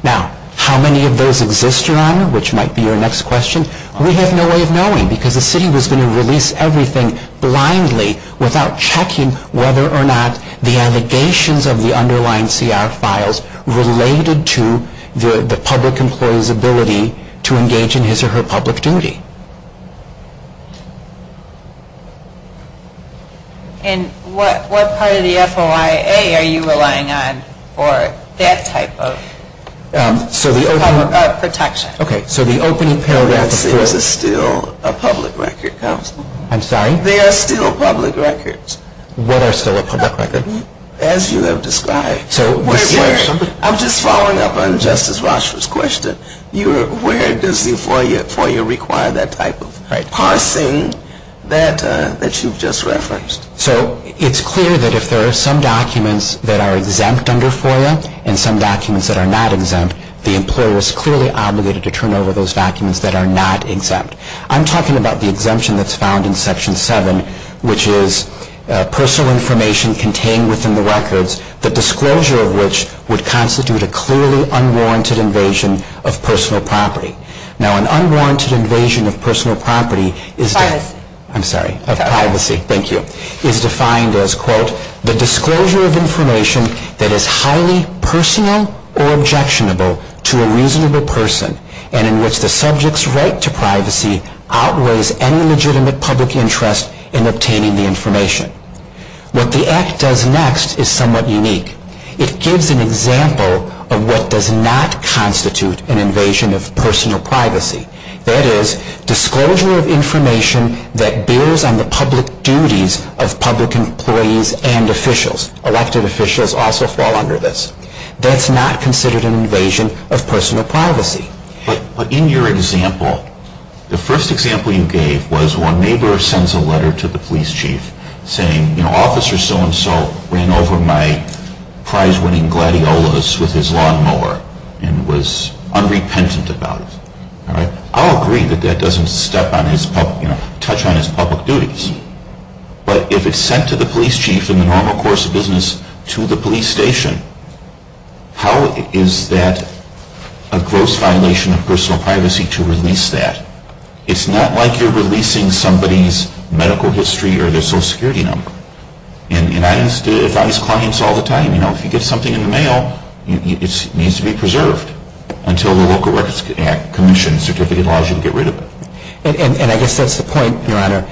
Now, how many of those exist, Your Honor, which might be your next question? We have no way of knowing because the city was going to release everything blindly without checking whether or not the allegations of the underlying CR files related to the public employee's ability to engage in his or her public duty. And what part of the FOIA are you relying on for that type of protection? Okay. So the opening paragraph of the FOIA. That is still a public record, counsel. I'm sorry? They are still public records. What are still public records? As you have described. I'm just following up on Justice Rochford's question. Where does the FOIA require that type of parsing that you've just referenced? So it's clear that if there are some documents that are exempt under FOIA and some documents that are not exempt, the employer is clearly obligated to turn over those documents that are not exempt. I'm talking about the exemption that's found in Section 7, which is personal information contained within the records, the disclosure of which would constitute a clearly unwarranted invasion of personal property. Now an unwarranted invasion of personal property is defined as, I'm sorry, of privacy. Thank you. Is defined as, quote, the disclosure of information that is highly personal or objectionable to a reasonable person and in which the subject's right to privacy outweighs any legitimate public interest in obtaining the information. What the Act does next is somewhat unique. It gives an example of what does not constitute an invasion of personal privacy. That is, disclosure of information that builds on the public duties of public employees and officials. Elected officials also fall under this. That's not considered an invasion of personal privacy. But in your example, the first example you gave was when a neighbor sends a letter to the police chief saying, you know, officer so-and-so ran over my prize-winning gladiolas with his lawnmower and was unrepentant about it. I'll agree that that doesn't touch on his public duties. But if it's sent to the police chief in the normal course of business to the police station, how is that a gross violation of personal privacy to release that? It's not like you're releasing somebody's medical history or their social security number. And I used to advise clients all the time, you know, if you get something in the mail, it needs to be preserved until the Local Records Commission certificate allows you to get rid of it. And I guess that's the point, Your Honor.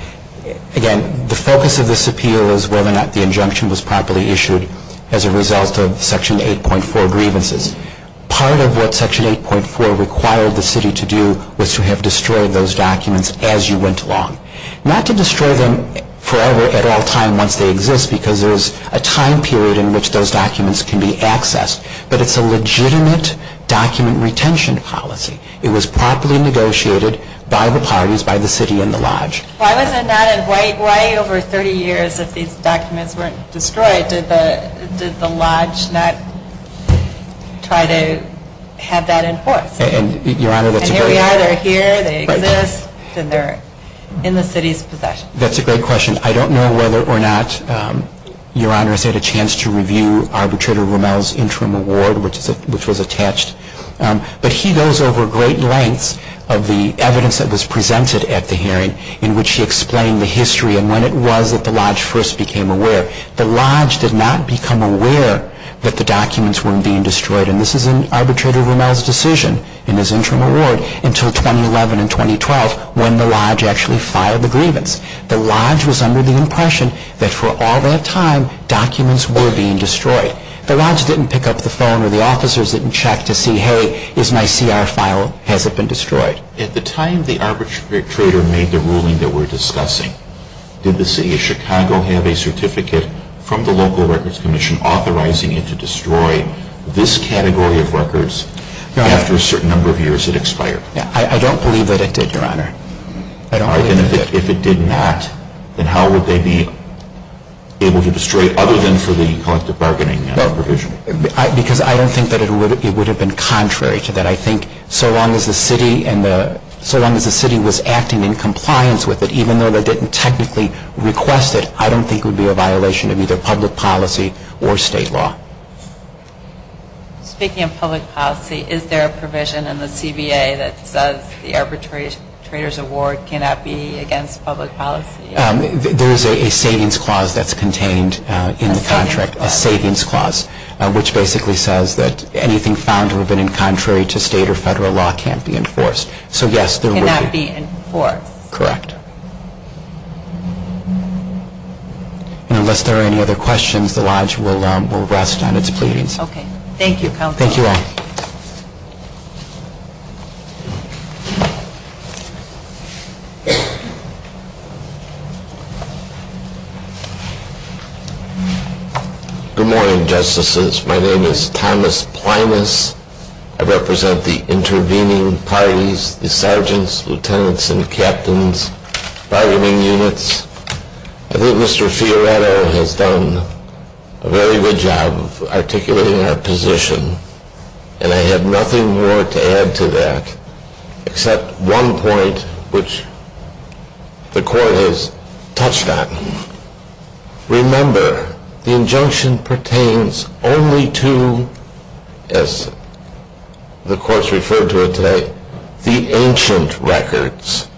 Again, the focus of this appeal is whether or not the injunction was properly issued as a result of Section 8.4 grievances. Part of what Section 8.4 required the city to do was to have destroyed those documents as you went along. Not to destroy them forever at all times once they exist, because there's a time period in which those documents can be accessed, but it's a legitimate document retention policy. It was properly negotiated by the parties, by the city and the Lodge. Why over 30 years if these documents weren't destroyed, did the Lodge not try to have that enforced? And, Your Honor, that's a great question. And here we are, they're here, they exist, and they're in the city's possession. That's a great question. I don't know whether or not Your Honor has had a chance to review Arbitrator Rommel's interim award, which was attached, but he goes over great lengths of the evidence that was presented at the hearing in which he explained the history and when it was that the Lodge first became aware. The Lodge did not become aware that the documents weren't being destroyed, and this is in Arbitrator Rommel's decision in his interim award until 2011 and 2012 when the Lodge actually filed the grievance. The Lodge was under the impression that for all that time documents were being destroyed. The Lodge didn't pick up the phone or the officers didn't check to see, hey, is my CR file, has it been destroyed? At the time the arbitrator made the ruling that we're discussing, did the City of Chicago have a certificate from the Local Records Commission authorizing it to destroy this category of records after a certain number of years it expired? I don't believe that it did, Your Honor. If it did not, then how would they be able to destroy it other than for the collective bargaining provision? Because I don't think that it would have been contrary to that. I think so long as the City was acting in compliance with it, even though they didn't technically request it, I don't think it would be a violation of either public policy or state law. Speaking of public policy, is there a provision in the CBA that says the arbitrator's award cannot be against public policy? There is a savings clause that's contained in the contract, a savings clause, which basically says that anything found to have been in contrary to state or federal law can't be enforced. So yes, there would be. It cannot be enforced. Correct. And unless there are any other questions, the Lodge will rest on its pleadings. Thank you, Your Honor. Good morning, Justices. My name is Thomas Plinus. I represent the intervening parties, the sergeants, lieutenants, and captains, bargaining units. I think Mr. Fioretto has done a very good job of articulating our position, and I have nothing more to add to that except one point which the Court has touched on. Remember, the injunction pertains only to, as the courts referred to it today, the ancient records.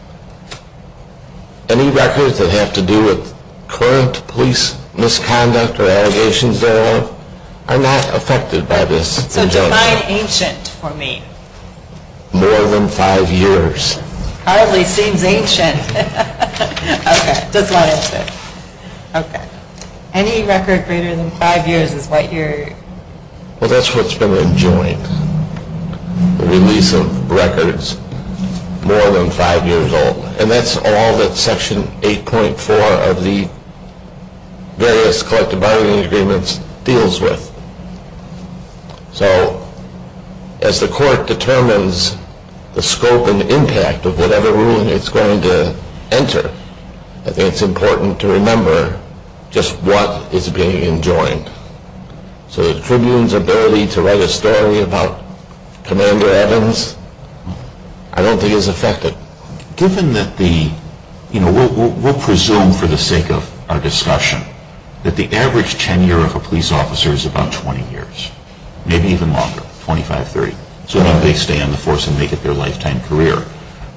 Any records that have to do with current police misconduct or allegations thereof are not affected by this injunction. So define ancient for me. More than five years. Hardly seems ancient. Okay. Just wanted to say. Okay. Any record greater than five years is what you're… Well, that's what's been enjoined. The release of records more than five years old. And that's all that Section 8.4 of the various collective bargaining agreements deals with. So as the Court determines the scope and impact of whatever ruling it's going to enter, I think it's important to remember just what is being enjoined. So the Tribune's ability to write a story about Commander Evans, I don't think is affected. Given that the, you know, we'll presume for the sake of our discussion that the average tenure of a police officer is about 20 years, maybe even longer, 25, 30, so that they stay on the force and make it their lifetime career.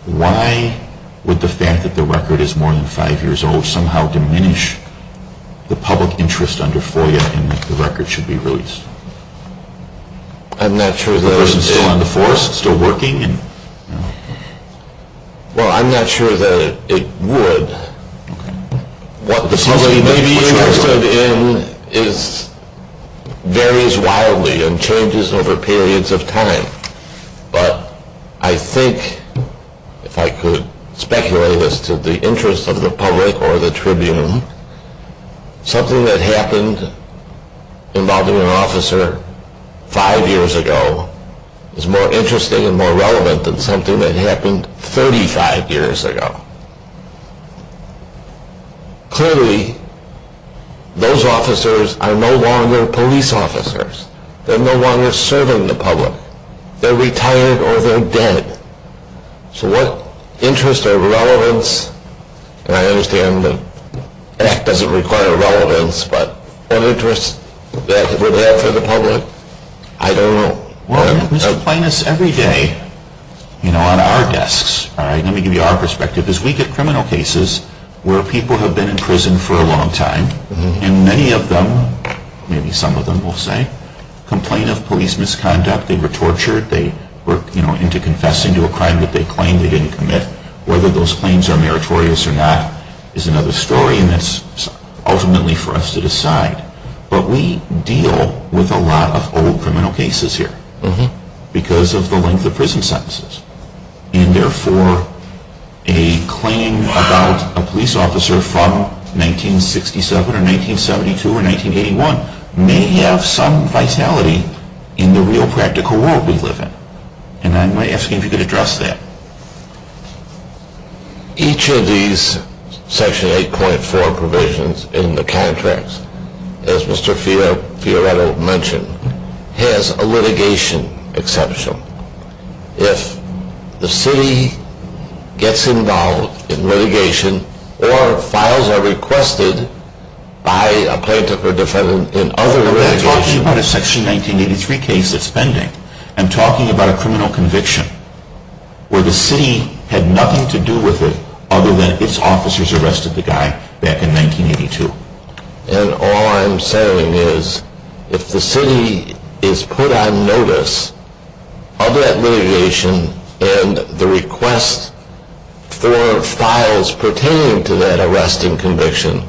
Why would the fact that the record is more than five years old somehow diminish the public interest under FOIA in that the record should be released? I'm not sure that it is. The person still on the force, still working? Well, I'm not sure that it would. What the public may be interested in varies wildly and changes over periods of time. But I think, if I could speculate as to the interest of the public or the Tribune, something that happened involving an officer five years ago is more interesting and more relevant than something that happened 35 years ago. Clearly, those officers are no longer police officers. They're no longer serving the public. They're retired or they're dead. So what interest or relevance, and I understand the act doesn't require relevance, but what interest that would have for the public, I don't know. Well, Mr. Plinus, every day, you know, on our desks, all right, let me give you our perspective, is we get criminal cases where people have been in prison for a long time, and many of them, maybe some of them will say, complain of police misconduct. They were tortured. They were, you know, into confessing to a crime that they claimed they didn't commit. Whether those claims are meritorious or not is another story, and that's ultimately for us to decide. But we deal with a lot of old criminal cases here because of the length of prison sentences, and therefore a claim about a police officer from 1967 or 1972 or 1981 may have some vitality in the real practical world we live in, and I'm asking if you could address that. Each of these Section 8.4 provisions in the contracts, as Mr. Fioretto mentioned, has a litigation exception. If the city gets involved in litigation or files are requested by a plaintiff or defendant in other litigation. I'm not talking about a Section 1983 case that's pending. I'm talking about a criminal conviction where the city had nothing to do with it other than its officers arrested the guy back in 1982. And all I'm saying is if the city is put on notice of that litigation and the request for files pertaining to that arresting conviction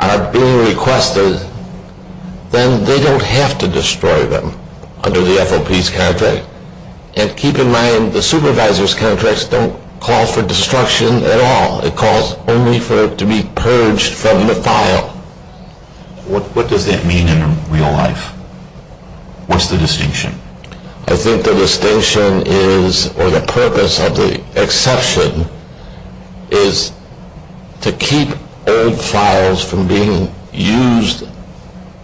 are being requested, then they don't have to destroy them under the FOP's contract. And keep in mind the supervisor's contracts don't call for destruction at all. It calls only for it to be purged from the file. What does that mean in real life? What's the distinction? I think the distinction is, or the purpose of the exception, is to keep old files from being used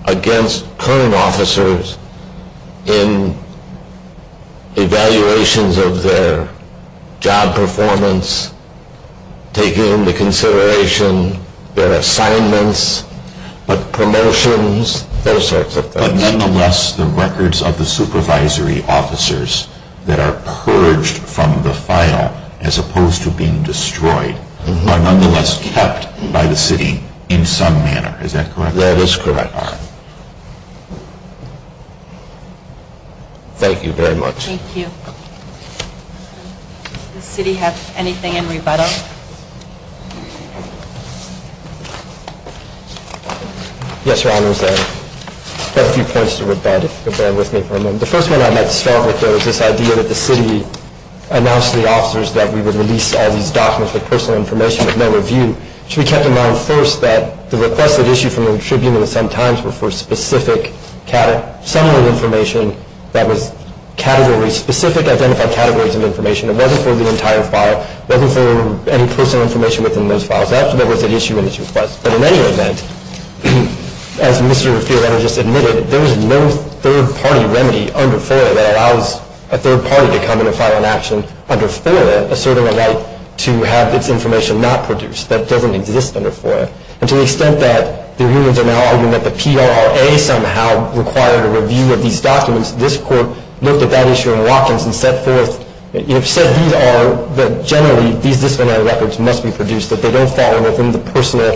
against current officers in evaluations of their job performance, taking into consideration their assignments, promotions, those sorts of things. But nonetheless, the records of the supervisory officers that are purged from the file as opposed to being destroyed are nonetheless kept by the city in some manner. Is that correct? That is correct. And that's what the FOPs are. Thank you very much. Thank you. Does the city have anything in rebuttal? Yes, Your Honors. I have a few points to rebut. If you'll bear with me for a moment. The first one I'd like to start with, though, is this idea that the city announced to the officers that we would release all these documents with personal information with no review. It should be kept in mind, first, that the requested issue from the Tribune and the Sun-Times were for specific summary information that was category-specific, identified categories of information. It wasn't for the entire file. It wasn't for any personal information within those files. That was an issue in this request. But in any event, as Mr. Fiorano just admitted, there is no third-party remedy under FOIA that allows a third party to come in and file an action under FOIA asserting a right to have its information not produced. That doesn't exist under FOIA. And to the extent that the reviewers are now arguing that the PRRA somehow required a review of these documents, this Court looked at that issue in Watkins and set forth, you know, said these are, that generally these disciplinary records must be produced, that they don't fall within the personal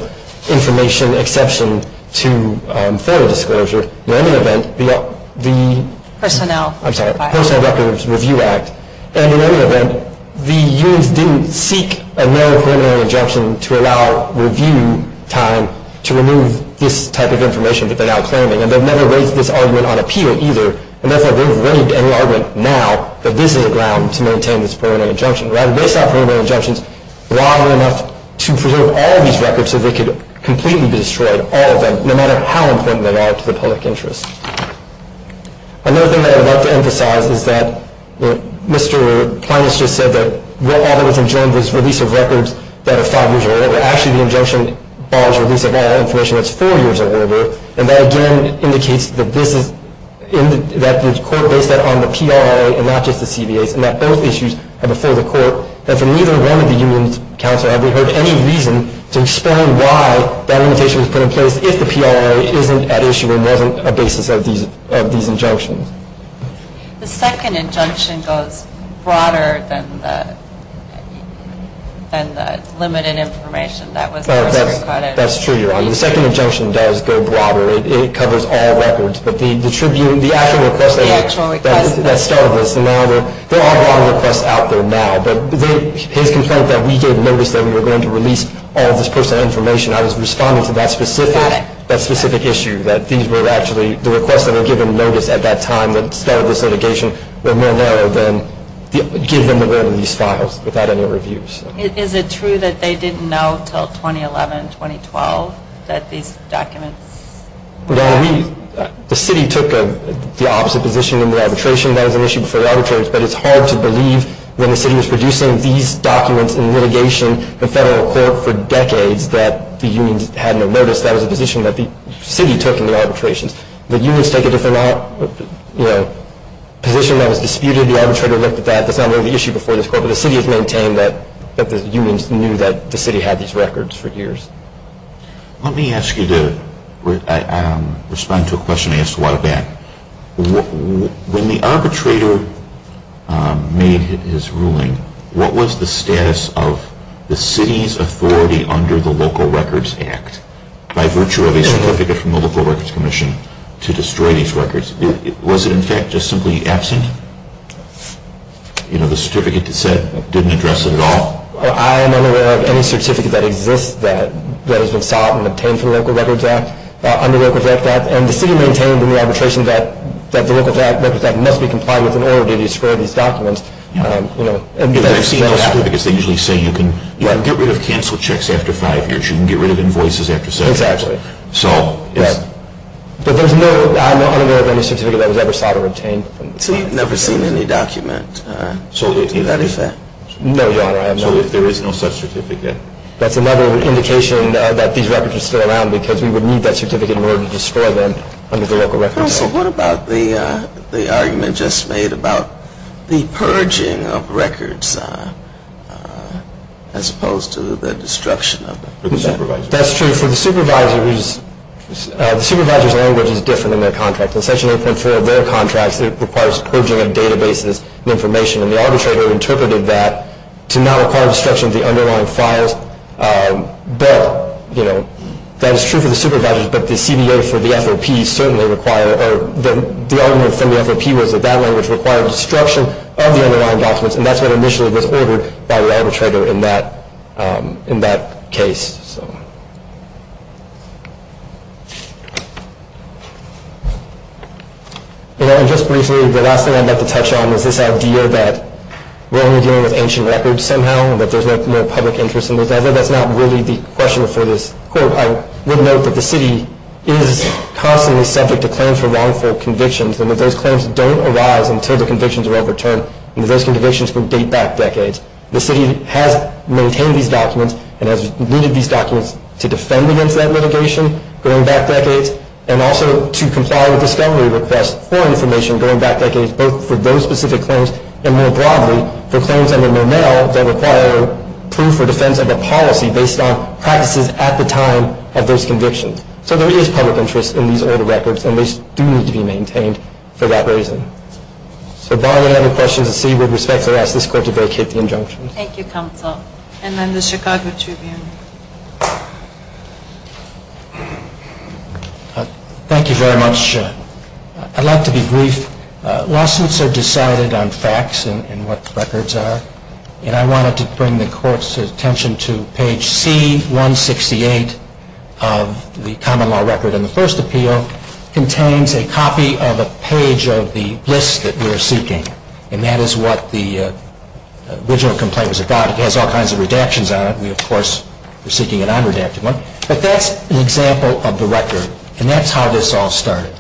information exception to federal disclosure. In any event, the – Personnel. I'm sorry, Personal Records Review Act. And in any event, the unions didn't seek a no preliminary injunction to allow review time to remove this type of information that they're now claiming. And they've never raised this argument on appeal either. And that's why they've raised any argument now that this is a ground to maintain this preliminary injunction. Rather, based on preliminary injunctions, why were enough to preserve all these records so they could completely be destroyed, all of them, no matter how important they are to the public interest? Another thing that I'd like to emphasize is that Mr. Klein has just said that all that was adjourned was release of records that are five years or older. Actually, the injunction bars release of all information that's four years or older. And that again indicates that this is – that the Court based that on the PRRA and not just the CBAs and that both issues are before the Court. And for neither one of the unions, counsel, have we heard any reason to explain why that limitation was put in place if the PRA isn't at issue and wasn't a basis of these injunctions? The second injunction goes broader than the limited information that was first recorded. That's true, Your Honor. The second injunction does go broader. It covers all records. But the actual request that started this, there are a lot of requests out there now. But his complaint that we gave notice that we were going to release all this personal information, I was responding to that specific issue that these were actually – the requests that were given notice at that time that started this litigation were more narrow than give them the word in these files without any reviews. Is it true that they didn't know until 2011, 2012, that these documents – Well, we – the city took the opposite position in the arbitration. That was an issue before the arbitration. But it's hard to believe when the city was producing these documents in litigation, the federal court for decades that the unions had no notice. That was a position that the city took in the arbitrations. The unions take a different position that was disputed. The arbitrator looked at that. That's not really the issue before this court. But the city has maintained that the unions knew that the city had these records for years. Let me ask you to respond to a question I asked a while back. When the arbitrator made his ruling, what was the status of the city's authority under the Local Records Act by virtue of a certificate from the Local Records Commission to destroy these records? Was it, in fact, just simply absent? You know, the certificate said it didn't address it at all? I am unaware of any certificate that exists that has been sought and obtained from the Local Records Act – under the Local Records Act. And the city maintained in the arbitration that the Local Records Act must be complied with in order to destroy these documents. If they've seen those certificates, they usually say, you can get rid of cancel checks after five years. You can get rid of invoices after seven years. Exactly. But I'm unaware of any certificate that was ever sought or obtained. So you've never seen any document to that effect? No, Your Honor, I have not. So if there is no such certificate? That's another indication that these records are still around because we would need that certificate in order to destroy them under the Local Records Act. So what about the argument just made about the purging of records as opposed to the destruction of them? That's true. For the supervisors, the supervisor's language is different in their contract. In Section 8.4 of their contract, it requires purging of databases and information. And the arbitrator interpreted that to not require destruction of the underlying files. But, you know, that is true for the supervisors, but the CBO for the FOP certainly require, or the argument from the FOP was that that language required destruction of the underlying documents. And that's what initially was ordered by the arbitrator in that case. And just briefly, the last thing I'd like to touch on is this idea that we're only dealing with ancient records somehow and that there's no more public interest in them. Although that's not really the question for this court, I would note that the city is constantly subject to claims for wrongful convictions and that those claims don't arise until the convictions are overturned and that those convictions would date back decades. The city has maintained these documents and has needed these documents to defend against that litigation going back decades and also to comply with discovery requests for information going back decades, both for those specific claims and, more broadly, for claims under Monell that require proof or defense of a policy based on practices at the time of those convictions. So there is public interest in these older records and they do need to be maintained for that reason. So if there are any other questions, the city would respectfully ask this court to vacate the injunction. Thank you, counsel. And then the Chicago Tribune. Thank you very much. I'd like to be brief. Lawsuits are decided on facts and what the records are and I wanted to bring the court's attention to page C-168 of the common law record in the first appeal. It contains a copy of a page of the list that we are seeking and that is what the original complaint was about. It has all kinds of redactions on it. We, of course, are seeking an unredacted one. But that's an example of the record and that's how this all started.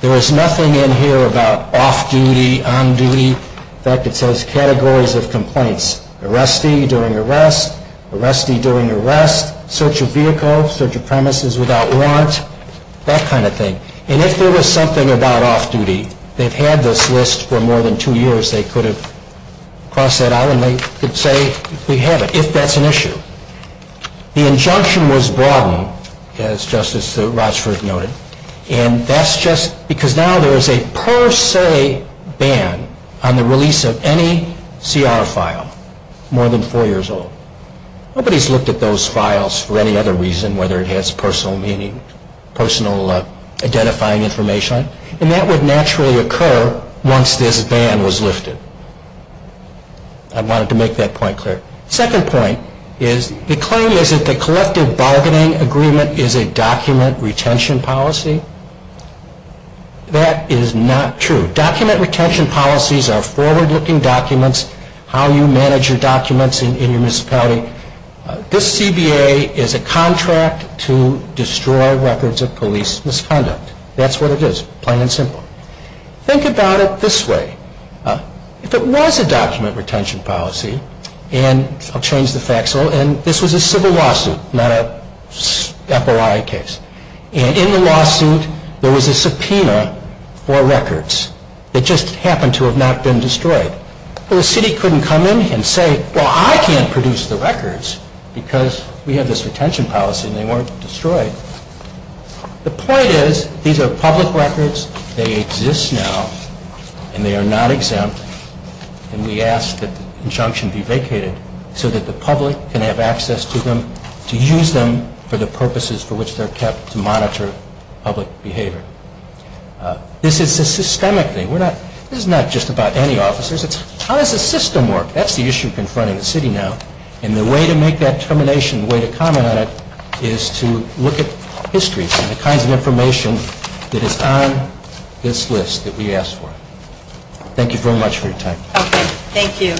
There is nothing in here about off-duty, on-duty. In fact, it says categories of complaints. Arrestee during arrest, arrestee during arrest, search of vehicle, search of premises without warrant, that kind of thing. And if there was something about off-duty, they've had this list for more than two years, they could have crossed that out and they could say, we have it, if that's an issue. The injunction was broadened, as Justice Rochford noted, and that's just because now there is a per se ban on the release of any CR file more than four years old. Nobody has looked at those files for any other reason, whether it has personal meaning, personal identifying information, and that would naturally occur once this ban was lifted. I wanted to make that point clear. The second point is the claim is that the collective bargaining agreement is a document retention policy. That is not true. Document retention policies are forward-looking documents, how you manage your documents in your municipality. This CBA is a contract to destroy records of police misconduct. That's what it is, plain and simple. Think about it this way. If it was a document retention policy, and I'll change the facts a little, and this was a civil lawsuit, not an FOI case, and in the lawsuit there was a subpoena for records that just happened to have not been destroyed. The city couldn't come in and say, well, I can't produce the records because we have this retention policy and they weren't destroyed. The point is, these are public records, they exist now, and they are not exempt, and we ask that the injunction be vacated so that the public can have access to them, to use them for the purposes for which they're kept to monitor public behavior. This is a systemic thing. This is not just about any officers. It's how does the system work? That's the issue confronting the city now, and the way to make that determination, the way to comment on it, is to look at history and the kinds of information that is on this list that we ask for. Thank you very much for your time. Okay, thank you.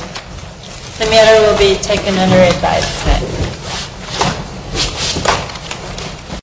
The matter will be taken under advisement.